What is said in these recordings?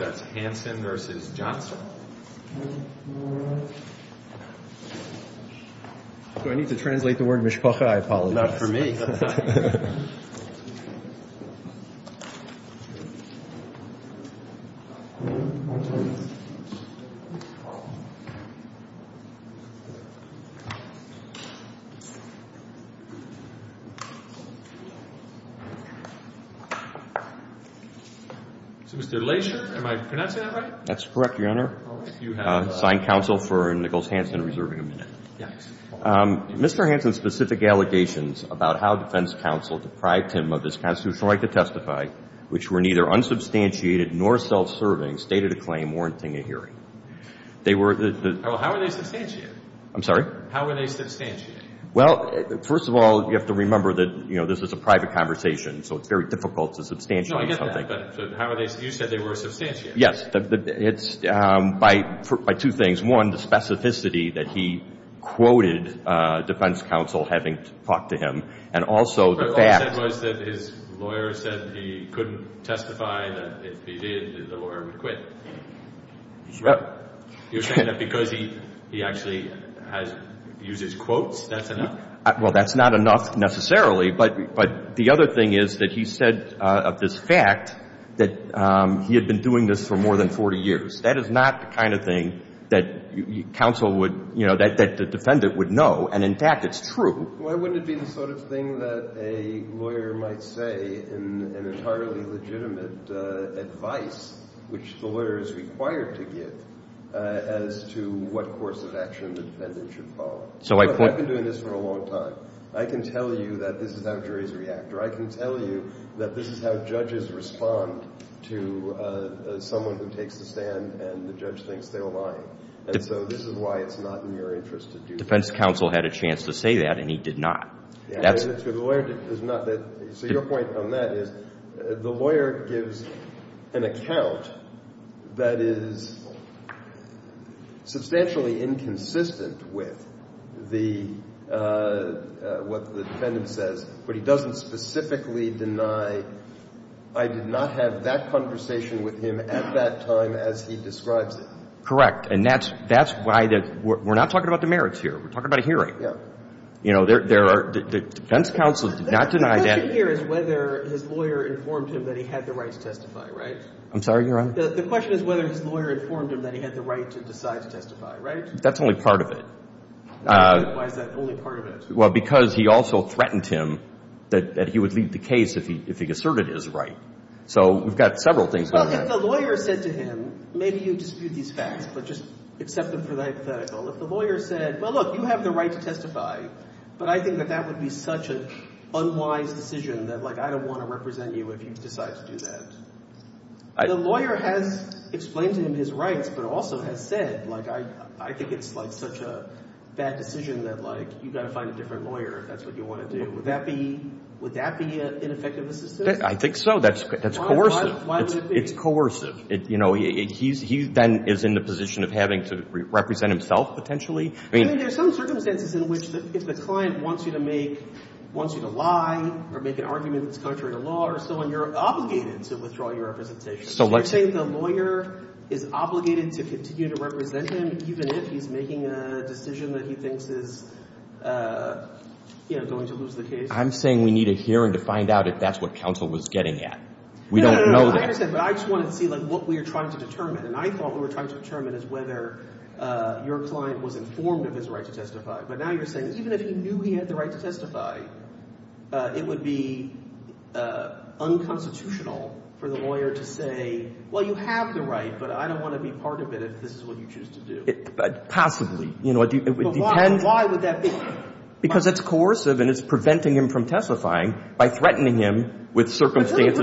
Do I need to translate the word Mishpacha? I apologize. Not for me. So, Mr. Leisher, am I pronouncing that right? That's correct, Your Honor. Signed counsel for Nichols Hansen, reserving a minute. Mr. Hansen's specific allegations about how defense counsel deprived him of his constitutional right to testify, which were neither unsubstantiated nor self-serving, stated a claim warranting a hearing. How are they substantiated? I'm sorry? How are they substantiated? Well, first of all, you have to remember that this is a private conversation, so it's very difficult to substantiate something. No, I get that, but you said they were substantiated. Yes, it's by two things. One, the specificity that he quoted defense counsel having talked to him, and also the fact. What you said was that his lawyer said he couldn't testify, that if he did, the lawyer would quit. You're saying that because he actually uses quotes, that's enough? Well, that's not enough necessarily, but the other thing is that he said of this fact that he had been doing this for more than 40 years. That is not the kind of thing that counsel would, you know, that the defendant would know. And, in fact, it's true. Why wouldn't it be the sort of thing that a lawyer might say in an entirely legitimate advice, which the lawyer is required to give, as to what course of action the defendant should follow? I've been doing this for a long time. I can tell you that this is how juries react, or I can tell you that this is how judges respond to someone who takes the stand and the judge thinks they were lying. And so this is why it's not in your interest to do that. Defense counsel had a chance to say that, and he did not. So your point on that is the lawyer gives an account that is substantially inconsistent with what the defendant says, but he doesn't specifically deny, I did not have that conversation with him at that time as he describes it. Correct. And that's why we're not talking about demerits here. We're talking about a hearing. Yeah. You know, there are – defense counsel did not deny that. The question here is whether his lawyer informed him that he had the right to testify, right? I'm sorry, Your Honor? The question is whether his lawyer informed him that he had the right to decide to testify, right? That's only part of it. Why is that only part of it? Well, because he also threatened him that he would leave the case if he asserted his right. So we've got several things going on. Well, if the lawyer said to him, maybe you dispute these facts, but just accept them for the hypothetical. If the lawyer said, well, look, you have the right to testify, but I think that that would be such an unwise decision that, like, I don't want to represent you if you decide to do that. The lawyer has explained to him his rights but also has said, like, I think it's, like, such a bad decision that, like, you've got to find a different lawyer if that's what you want to do. Would that be – would that be ineffective assistance? I think so. That's coercive. Why would it be? It's coercive. I mean, there's some circumstances in which if the client wants you to make – wants you to lie or make an argument that's contrary to law or so on, you're obligated to withdraw your representation. So let's – You're saying the lawyer is obligated to continue to represent him even if he's making a decision that he thinks is, you know, going to lose the case? I'm saying we need a hearing to find out if that's what counsel was getting at. We don't know that. I understand, but I just wanted to see, like, what we were trying to determine. And I thought what we were trying to determine is whether your client was informed of his right to testify. But now you're saying even if he knew he had the right to testify, it would be unconstitutional for the lawyer to say, well, you have the right, but I don't want to be part of it if this is what you choose to do. Possibly. You know, it would depend – But why would that be? Because it's coercive and it's preventing him from testifying by threatening him with circumstances – Well, that's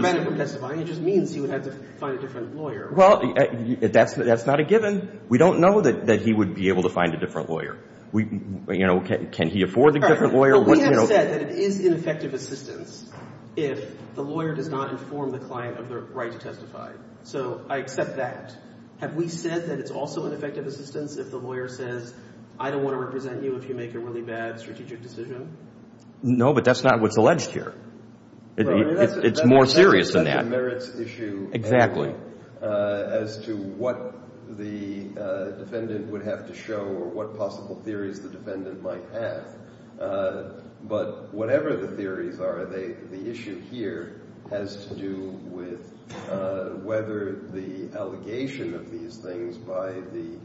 not a given. We don't know that he would be able to find a different lawyer. You know, can he afford a different lawyer? But we have said that it is ineffective assistance if the lawyer does not inform the client of their right to testify. So I accept that. Have we said that it's also ineffective assistance if the lawyer says, I don't want to represent you if you make a really bad strategic decision? No, but that's not what's alleged here. It's more serious than that. It merits issue – Exactly. As to what the defendant would have to show or what possible theories the defendant might have. But whatever the theories are, the issue here has to do with whether the allegation of these things by the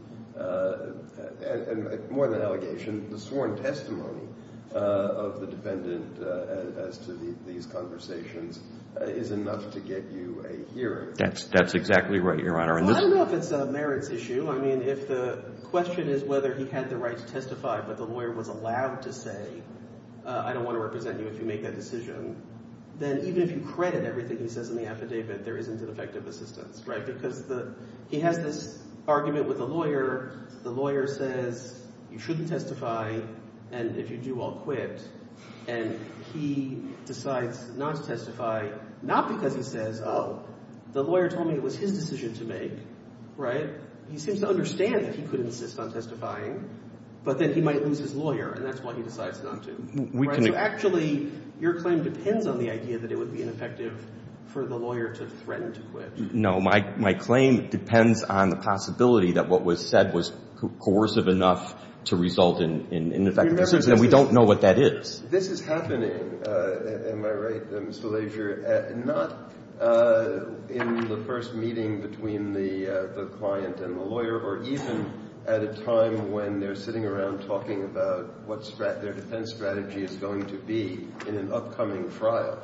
– more than allegation, the sworn testimony of the defendant as to these conversations is enough to get you a hearing. That's exactly right, Your Honor. Well, I don't know if it's a merits issue. I mean if the question is whether he had the right to testify, but the lawyer was allowed to say, I don't want to represent you if you make that decision, then even if you credit everything he says in the affidavit, there isn't an effective assistance, right? Because he has this argument with the lawyer. The lawyer says you shouldn't testify, and if you do, I'll quit. And he decides not to testify, not because he says, oh, the lawyer told me it was his decision to make, right? He seems to understand that he could insist on testifying, but then he might lose his lawyer, and that's why he decides not to. So actually, your claim depends on the idea that it would be ineffective for the lawyer to threaten to quit. No. My claim depends on the possibility that what was said was coercive enough to result in ineffective assistance, and we don't know what that is. This is happening, am I right, Mr. Leasure, not in the first meeting between the client and the lawyer, or even at a time when they're sitting around talking about what their defense strategy is going to be in an upcoming trial.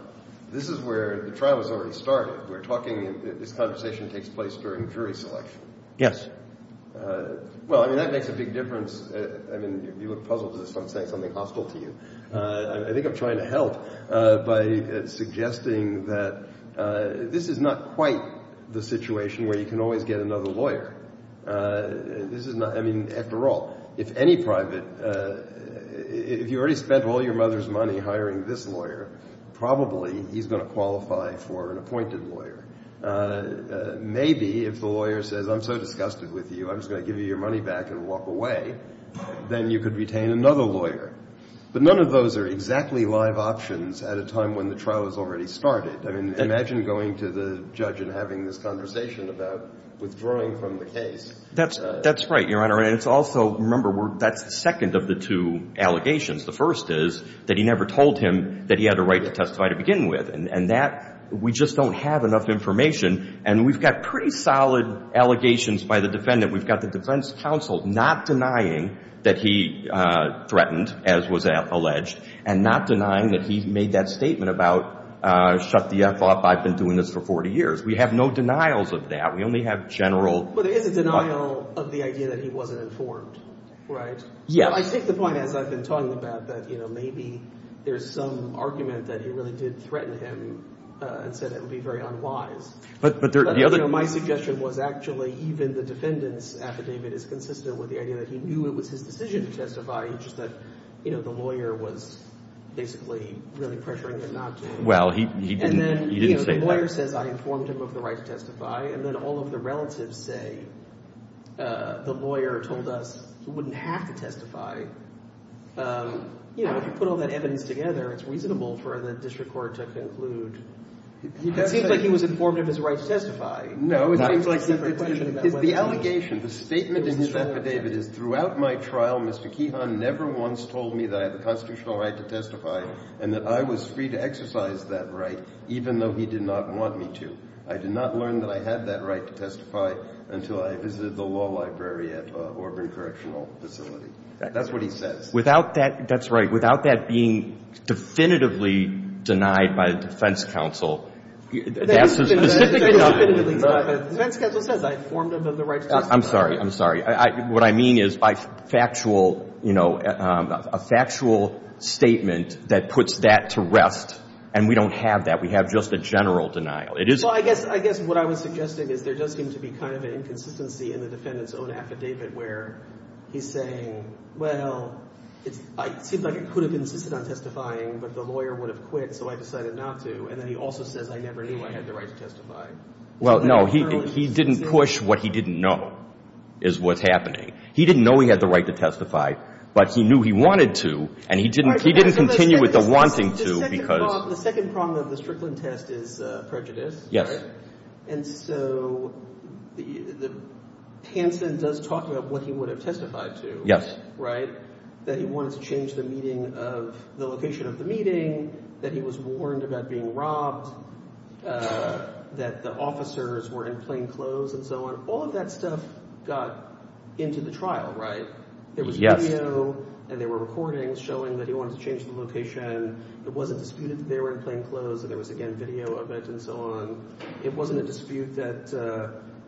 This is where the trial has already started. We're talking, this conversation takes place during jury selection. Yes. Well, I mean that makes a big difference. I mean, you look puzzled as if I'm saying something hostile to you. I think I'm trying to help by suggesting that this is not quite the situation where you can always get another lawyer. This is not – I mean, after all, if any private – if you already spent all your mother's money hiring this lawyer, probably he's going to qualify for an appointed lawyer. Maybe if the lawyer says, I'm so disgusted with you, I'm just going to give you your money back and walk away, then you could retain another lawyer. But none of those are exactly live options at a time when the trial has already started. I mean, imagine going to the judge and having this conversation about withdrawing from the case. That's right, Your Honor. And it's also – remember, that's the second of the two allegations. The first is that he never told him that he had a right to testify to begin with. And that – we just don't have enough information. And we've got pretty solid allegations by the defendant. We've got the defense counsel not denying that he threatened, as was alleged, and not denying that he made that statement about shut the F up. I've been doing this for 40 years. We have no denials of that. We only have general – But there is a denial of the idea that he wasn't informed, right? Yeah. I take the point, as I've been talking about, that maybe there's some argument that he really did threaten him and said it would be very unwise. But my suggestion was actually even the defendant's affidavit is consistent with the idea that he knew it was his decision to testify. It's just that the lawyer was basically really pressuring him not to. Well, he didn't say that. You know, if you put all that evidence together, it's reasonable for the district court to conclude – It seems like he was informed of his right to testify. The allegation, the statement in his affidavit is, Throughout my trial, Mr. Keehan never once told me that I had the constitutional right to testify and that I was free to exercise that right, even though he did not want me to. I did not learn that I had that right to testify until I visited the law library at Auburn Correctional Facility. That's what he says. Without that – that's right. Without that being definitively denied by the defense counsel, that's a specific – That is definitively denied. The defense counsel says I informed him of the right to testify. I'm sorry. I'm sorry. What I mean is by factual – you know, a factual statement that puts that to rest, and we don't have that. We have just a general denial. It is – Well, I guess – I guess what I was suggesting is there does seem to be kind of an inconsistency in the defendant's own affidavit where he's saying, Well, it seems like I could have insisted on testifying, but the lawyer would have quit, so I decided not to. And then he also says I never knew I had the right to testify. Well, no. He didn't push what he didn't know is what's happening. He didn't know he had the right to testify, but he knew he wanted to, and he didn't – he didn't continue with the wanting to because – The second problem of the Strickland test is prejudice, right? And so the – Hansen does talk about what he would have testified to, right? That he wanted to change the meeting of – the location of the meeting, that he was warned about being robbed, that the officers were in plain clothes and so on. All of that stuff got into the trial, right? Yes. There was video, and there were recordings showing that he wanted to change the location. It wasn't disputed that they were in plain clothes, and there was, again, video of it and so on. It wasn't a dispute that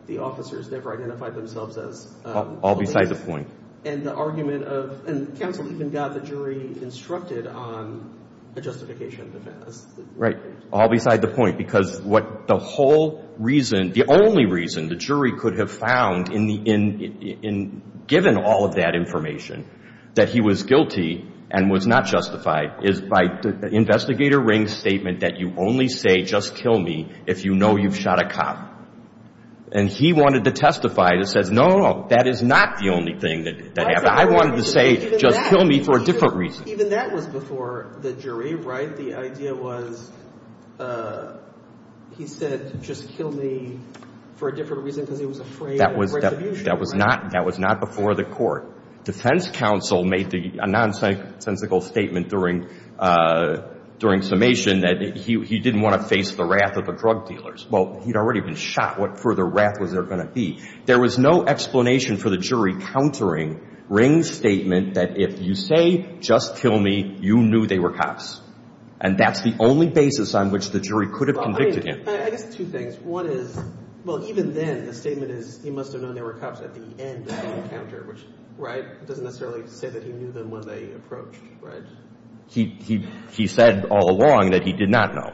the officers never identified themselves as police. All beside the point. And the argument of – and counsel even got the jury instructed on a justification defense. Right. All beside the point. Because what the whole reason – the only reason the jury could have found in the – given all of that information that he was guilty and was not justified is by Investigator Ring's statement that you only say just kill me if you know you've shot a cop. And he wanted to testify that says, no, no, no, that is not the only thing that happened. I wanted to say just kill me for a different reason. Even that was before the jury, right? The idea was he said just kill me for a different reason because he was afraid of great abuse. That was not before the court. Defense counsel made a nonsensical statement during summation that he didn't want to face the wrath of the drug dealers. Well, he'd already been shot. What further wrath was there going to be? There was no explanation for the jury countering Ring's statement that if you say just kill me, you knew they were cops. And that's the only basis on which the jury could have convicted him. I guess two things. One is – well, even then, the statement is he must have known they were cops at the end of the encounter, which – right? Doesn't necessarily say that he knew them when they approached, right? He said all along that he did not know.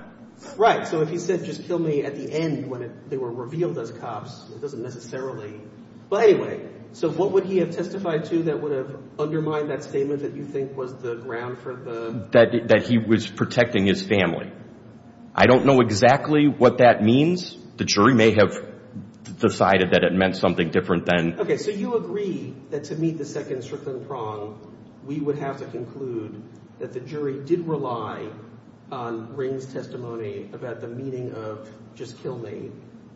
Right. So if he said just kill me at the end when they were revealed as cops, it doesn't necessarily – but anyway. So what would he have testified to that would have undermined that statement that you think was the ground for the – That he was protecting his family. I don't know exactly what that means. The jury may have decided that it meant something different than –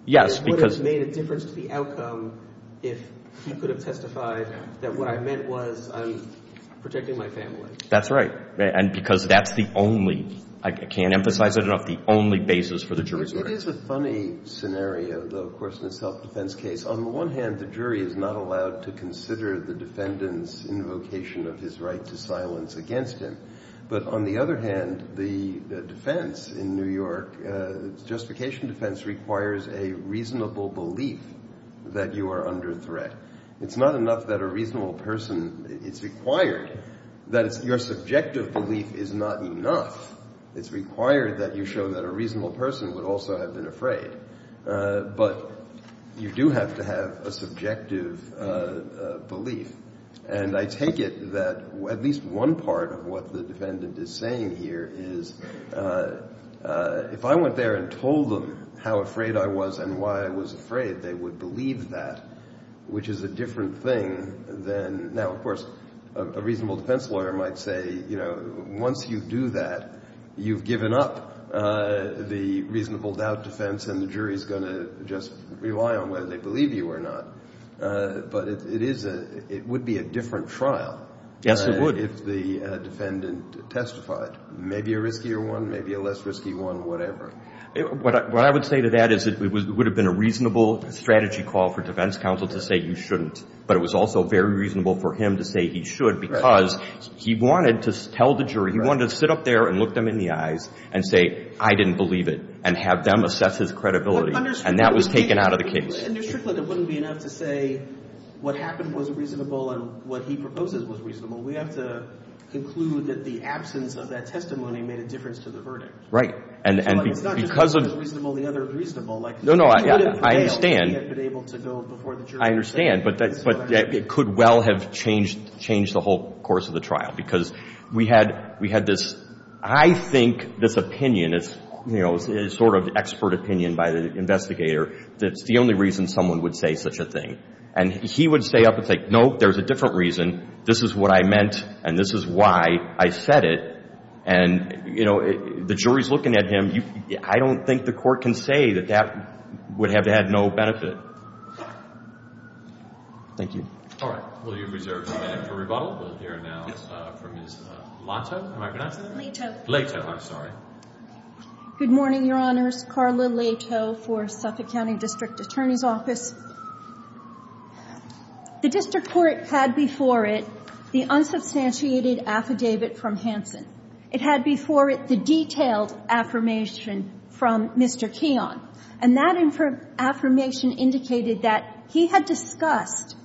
Yes, because – That's right. And because that's the only – I can't emphasize it enough – the only basis for the jury. It is a funny scenario, though, of course, in a self-defense case. On the one hand, the jury is not allowed to consider the defendant's invocation of his right to silence against him. But on the other hand, the defense in New York, justification defense, requires a reasonable belief that you are under threat. It's not enough that a reasonable person – it's required that your subjective belief is not enough. It's required that you show that a reasonable person would also have been afraid. But you do have to have a subjective belief. And I take it that at least one part of what the defendant is saying here is if I went there and told them how afraid I was and why I was afraid, they would believe that, which is a different thing than – now, of course, a reasonable defense lawyer might say, you know, once you do that, you've given up the reasonable doubt defense and the jury is going to just rely on whether they believe you or not. But it is a – it would be a different trial if the defendant testified. Maybe a riskier one, maybe a less risky one, whatever. What I would say to that is it would have been a reasonable strategy call for defense counsel to say you shouldn't. But it was also very reasonable for him to say he should because he wanted to tell the jury – he wanted to sit up there and look them in the eyes and say, I didn't believe it, and have them assess his credibility. And that was taken out of the case. But, Mr. Strickland, it wouldn't be enough to say what happened was reasonable and what he proposes was reasonable. We have to conclude that the absence of that testimony made a difference to the verdict. Right. And because of – It's not just one was reasonable, the other was reasonable. No, no, I understand. He would have failed if he had been able to go before the jury. I understand. But it could well have changed the whole course of the trial because we had this – I think this opinion is, you know, this is sort of expert opinion by the investigator that's the only reason someone would say such a thing. And he would stay up and say, no, there's a different reason. This is what I meant and this is why I said it. And, you know, the jury's looking at him. I don't think the court can say that that would have had no benefit. Thank you. All right. Well, you've reserved a minute for rebuttal. We'll hear now from Ms. Lato. Am I pronouncing that right? Lato. Good morning, Your Honors. Carla Lato for Suffolk County District Attorney's Office. The district court had before it the unsubstantiated affidavit from Hansen. It had before it the detailed affirmation from Mr. Keon. And that affirmation indicated that he had discussed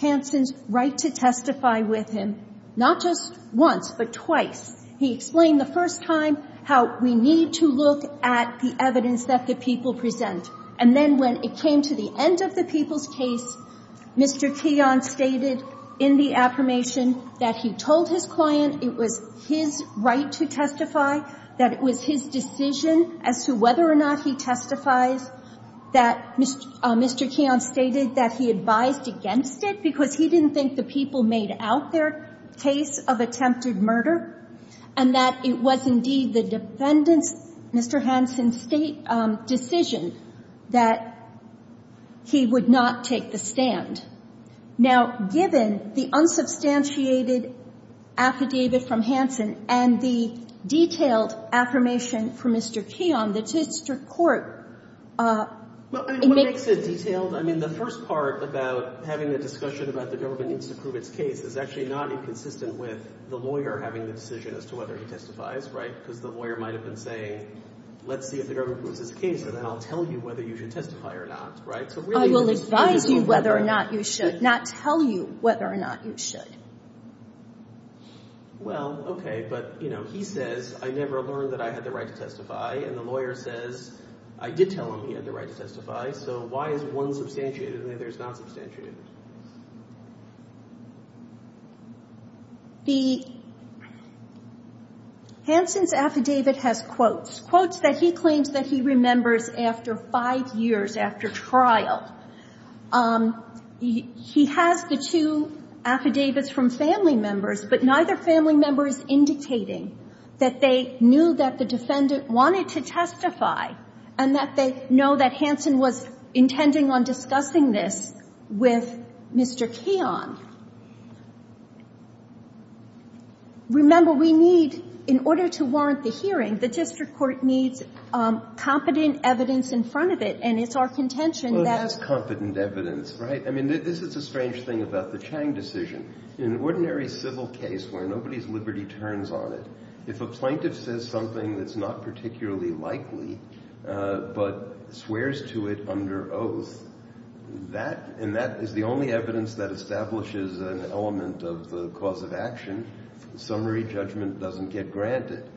Hansen's right to testify with him not just once but twice. He explained the first time how we need to look at the evidence that the people present. And then when it came to the end of the people's case, Mr. Keon stated in the affirmation that he told his client it was his right to testify, that it was his decision as to whether or not he testifies, that Mr. Keon stated that he advised against it because he didn't think the people made out their case of attempted murder, and that it was indeed the defendant's, Mr. Hansen's, state decision that he would not take the stand. Now, given the unsubstantiated affidavit from Hansen and the detailed affirmation from Mr. Keon, the district court makes it detailed. I mean, the first part about having a discussion about the government needs to prove its case is actually not inconsistent with the lawyer having the decision as to whether he testifies, right? Because the lawyer might have been saying, let's see if the government proves its case, and then I'll tell you whether you should testify or not, right? I will advise you whether or not you should, not tell you whether or not you should. Well, okay, but, you know, he says, I never learned that I had the right to testify, and the lawyer says, I did tell him he had the right to testify, so why is one substantiated and the other is not substantiated? The – Hansen's affidavit has quotes, quotes that he claims that he remembers after five years after trial. He has the two affidavits from family members, but neither family member is indicating that they knew that the defendant wanted to testify and that they know that Hansen was intending on discussing this with Mr. Keon. Remember, we need, in order to warrant the hearing, the district court needs competent evidence in front of it, and it's our contention that – Well, that's competent evidence, right? I mean, this is the strange thing about the Chang decision. In an ordinary civil case where nobody's liberty turns on it, if a plaintiff says something that's not particularly likely, but swears to it under oath, that – and that is the only evidence that establishes an element of the cause of action. Summary judgment doesn't get granted.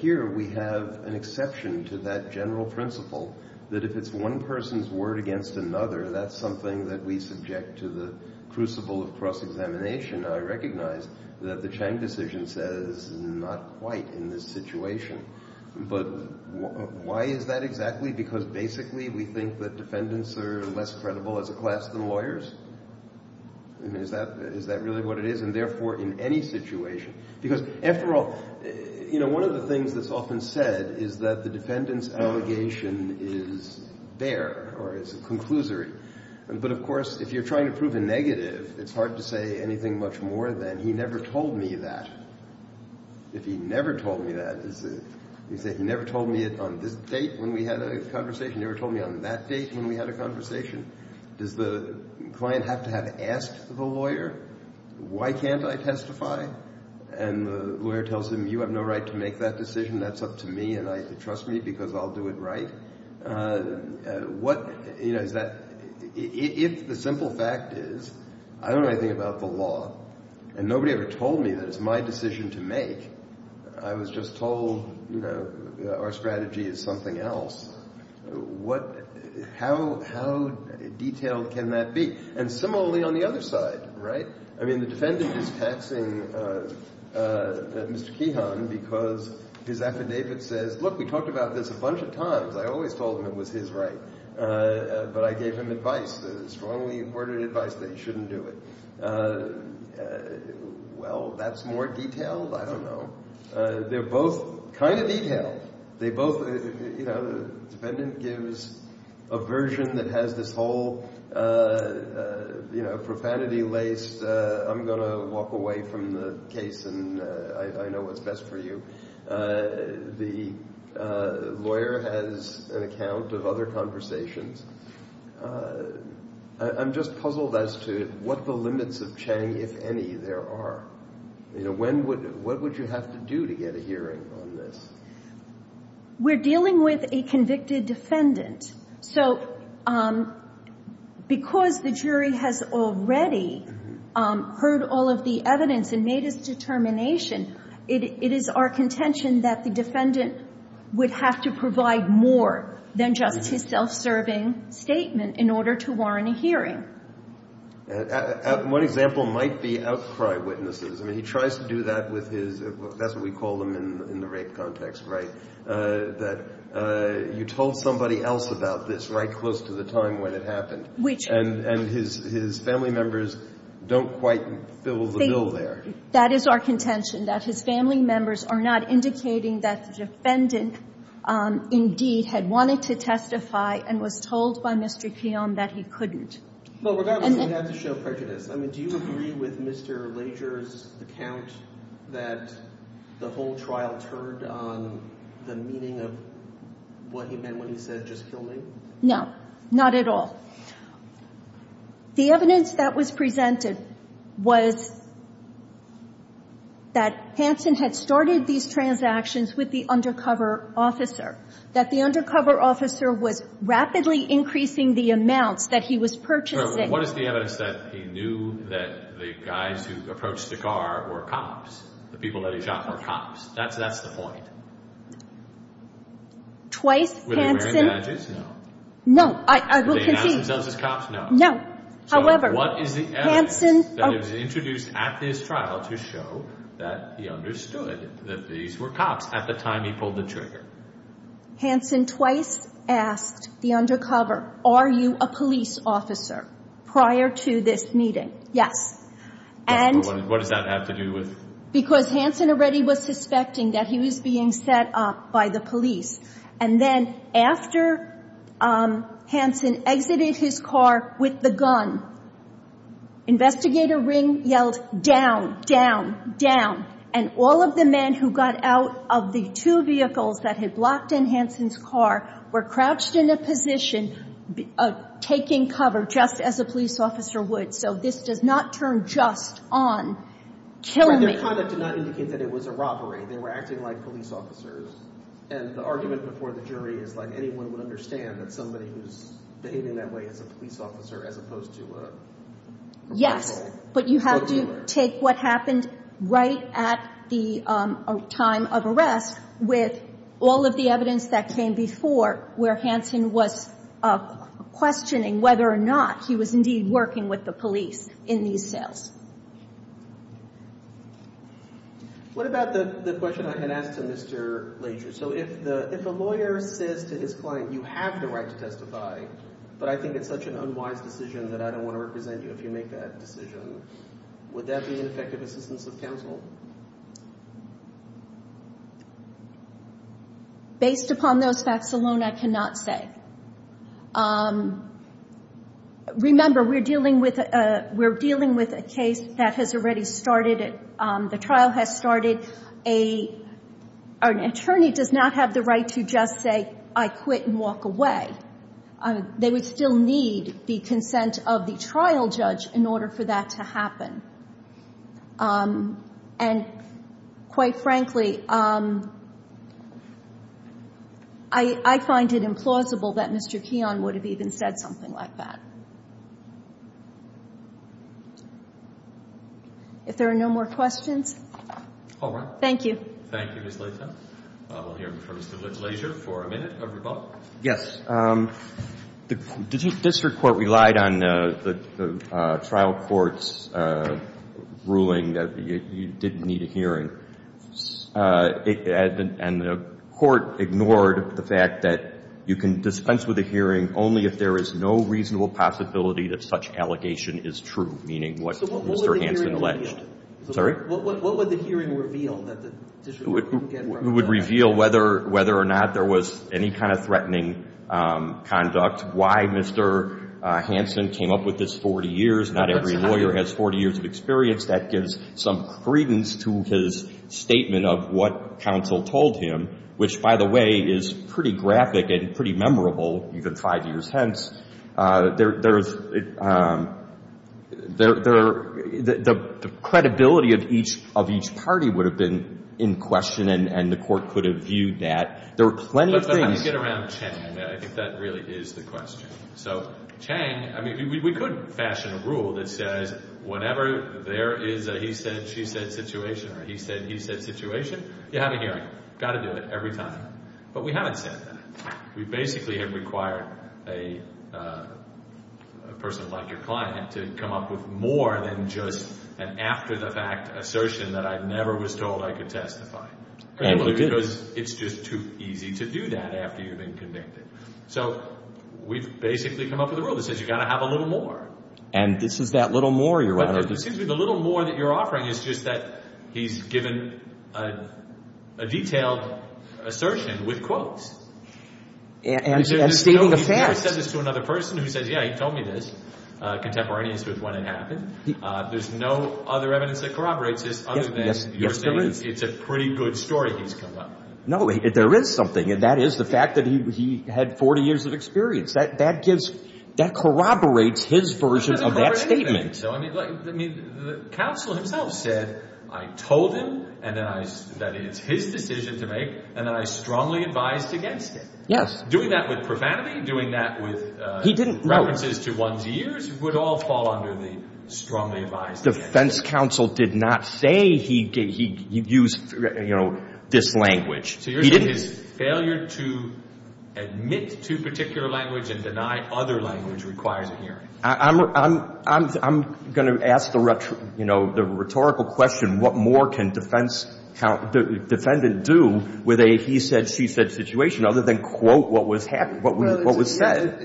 Here we have an exception to that general principle that if it's one person's word against another, that's something that we subject to the crucible of cross-examination. I recognize that the Chang decision says not quite in this situation, but why is that exactly? Because basically we think that defendants are less credible as a class than lawyers. I mean, is that really what it is? And therefore, in any situation – because, after all, you know, One of the things that's often said is that the defendant's allegation is there or is a conclusory. But, of course, if you're trying to prove a negative, it's hard to say anything much more than, he never told me that. If he never told me that, you say, he never told me it on this date when we had a conversation, he never told me on that date when we had a conversation. Does the client have to have asked the lawyer, why can't I testify? And the lawyer tells him, you have no right to make that decision. That's up to me, and trust me, because I'll do it right. What – you know, is that – if the simple fact is, I don't know anything about the law, and nobody ever told me that it's my decision to make, I was just told, you know, our strategy is something else, what – how detailed can that be? And similarly on the other side, right? I mean, the defendant is taxing Mr. Keehan because his affidavit says, look, we talked about this a bunch of times. I always told him it was his right, but I gave him advice, strongly worded advice that he shouldn't do it. Well, that's more detailed? I don't know. They're both kind of detailed. They both – you know, the defendant gives a version that has this whole, you know, profanity-laced – I'm going to walk away from the case, and I know what's best for you. The lawyer has an account of other conversations. I'm just puzzled as to what the limits of Chang, if any, there are. You know, when would – what would you have to do to get a hearing on this? We're dealing with a convicted defendant. So because the jury has already heard all of the evidence and made its determination, it is our contention that the defendant would have to provide more than just his self-serving statement in order to warrant a hearing. One example might be outcry witnesses. I mean, he tries to do that with his – that's what we call them in the rape context, right? That you told somebody else about this right close to the time when it happened. Which – And his family members don't quite fill the bill there. That is our contention, that his family members are not indicating that the defendant indeed had wanted to testify and was told by Mr. Keom that he couldn't. Well, regardless, we have to show prejudice. I mean, do you agree with Mr. Lager's account that the whole trial turned on the meaning of what he meant when he said, just kill me? No, not at all. The evidence that was presented was that Hanson had started these transactions with the undercover officer, that the undercover officer was rapidly increasing the amounts that he was purchasing. What is the evidence that he knew that the guys who approached the car were cops, the people that he shot were cops? That's the point. Twice, Hanson – Were they wearing badges? No. No, I will concede – Did they announce themselves as cops? No. No. However – So what is the evidence that was introduced at this trial to show that he understood that these were cops at the time he pulled the trigger? Hanson twice asked the undercover, are you a police officer prior to this meeting? Yes. And – What does that have to do with – Because Hanson already was suspecting that he was being set up by the police. And then after Hanson exited his car with the gun, investigator Ring yelled, down, down, down. And all of the men who got out of the two vehicles that had blocked in Hanson's car were crouched in a position taking cover just as a police officer would. So this does not turn just on kill me. Their conduct did not indicate that it was a robbery. They were acting like police officers. And the argument before the jury is like anyone would understand that somebody who's behaving that way is a police officer as opposed to a – Yes, but you have to take what happened right at the time of arrest with all of the evidence that came before where Hanson was questioning whether or not he was indeed working with the police in these sales. What about the question I had asked to Mr. Lager? So if a lawyer says to his client, you have the right to testify, but I think it's such an unwise decision that I don't want to represent you if you make that decision, would that be an effective assistance of counsel? Based upon those facts alone, I cannot say. Remember, we're dealing with a case that has already started. The trial has started. An attorney does not have the right to just say, I quit and walk away. They would still need the consent of the trial judge in order for that to happen. And quite frankly, I find it implausible that Mr. Keon would have even said something like that. If there are no more questions. All right. Thank you. Thank you, Ms. Latham. We'll hear from Mr. Lager for a minute or rebuttal. Yes. The district court relied on the trial court's ruling that you didn't need a hearing. And the court ignored the fact that you can dispense with a hearing only if there is no reasonable possibility that such allegation is true, meaning what Mr. Hansen alleged. Sorry? What would the hearing reveal that the district court didn't get from the trial? It would reveal whether or not there was any kind of threatening conduct, why Mr. Hansen came up with this 40 years. Not every lawyer has 40 years of experience. That gives some credence to his statement of what counsel told him, which, by the way, is pretty graphic and pretty memorable, even five years hence. The credibility of each party would have been in question, and the court could have viewed that. There were plenty of things. But let me get around Chang. I think that really is the question. So Chang, I mean, we could fashion a rule that says whenever there is a he said, she said situation or a he said, he said situation, you have a hearing. Got to do it every time. But we haven't said that. We basically have required a person like your client to come up with more than just an after-the-fact assertion that I never was told I could testify. Because it's just too easy to do that after you've been convicted. So we've basically come up with a rule that says you've got to have a little more. And this is that little more you're out of? It seems to me the little more that you're offering is just that he's given a detailed assertion with quotes. And stating a fact. He's never said this to another person who says, yeah, he told me this, contemporaneous with when it happened. There's no other evidence that corroborates this other than you're saying it's a pretty good story he's come up with. No, there is something, and that is the fact that he had 40 years of experience. That corroborates his version of that statement. I think so. The counsel himself said, I told him that it's his decision to make, and then I strongly advised against it. Yes. Doing that with profanity, doing that with references to one's years would all fall under the strongly advised against it. The defense counsel did not say he used this language. So you're saying his failure to admit to a particular language and deny other language requires a hearing. I'm going to ask the rhetorical question, what more can defense defendant do with a he said, she said situation other than quote what was said?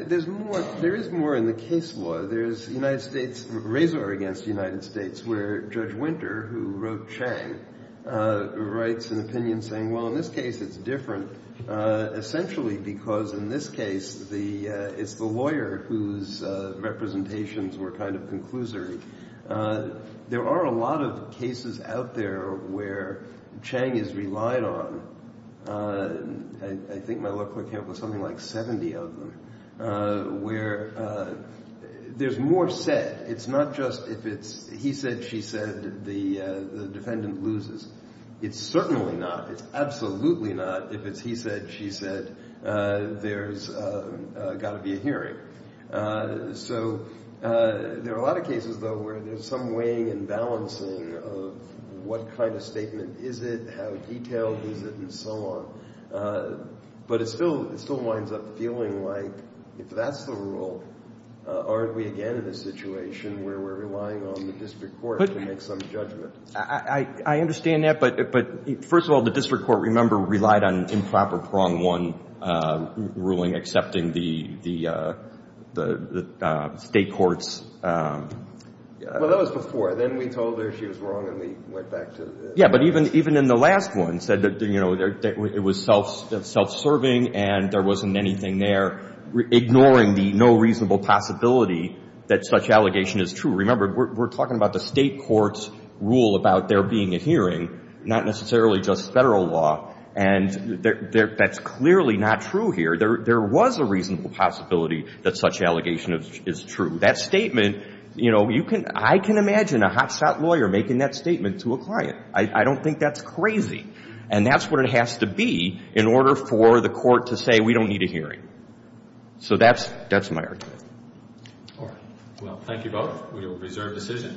There is more in the case law. There's the United States razor against the United States where Judge Winter, who wrote Chang, writes an opinion saying, well, in this case, it's different. Essentially because in this case, it's the lawyer whose representations were kind of conclusory. There are a lot of cases out there where Chang is relied on. I think my lookbook had something like 70 of them where there's more said. It's not just if it's he said, she said, the defendant loses. It's certainly not. It's absolutely not if it's he said, she said, there's got to be a hearing. So there are a lot of cases, though, where there's some weighing and balancing of what kind of statement is it, how detailed is it, and so on. But it still winds up feeling like if that's the rule, aren't we again in a situation where we're relying on the district court to make some judgment? I understand that. But first of all, the district court, remember, relied on improper prong one ruling accepting the state court's. Well, that was before. Then we told her she was wrong and we went back to the. Yeah, but even in the last one, said that it was self-serving and there wasn't anything there, ignoring the no reasonable possibility that such allegation is true. Remember, we're talking about the state court's rule about there being a hearing, not necessarily just federal law. And that's clearly not true here. There was a reasonable possibility that such allegation is true. That statement, you know, you can I can imagine a hotshot lawyer making that statement to a client. I don't think that's crazy. And that's what it has to be in order for the court to say we don't need a hearing. So that's that's my argument. Well, thank you both. We will reserve decision.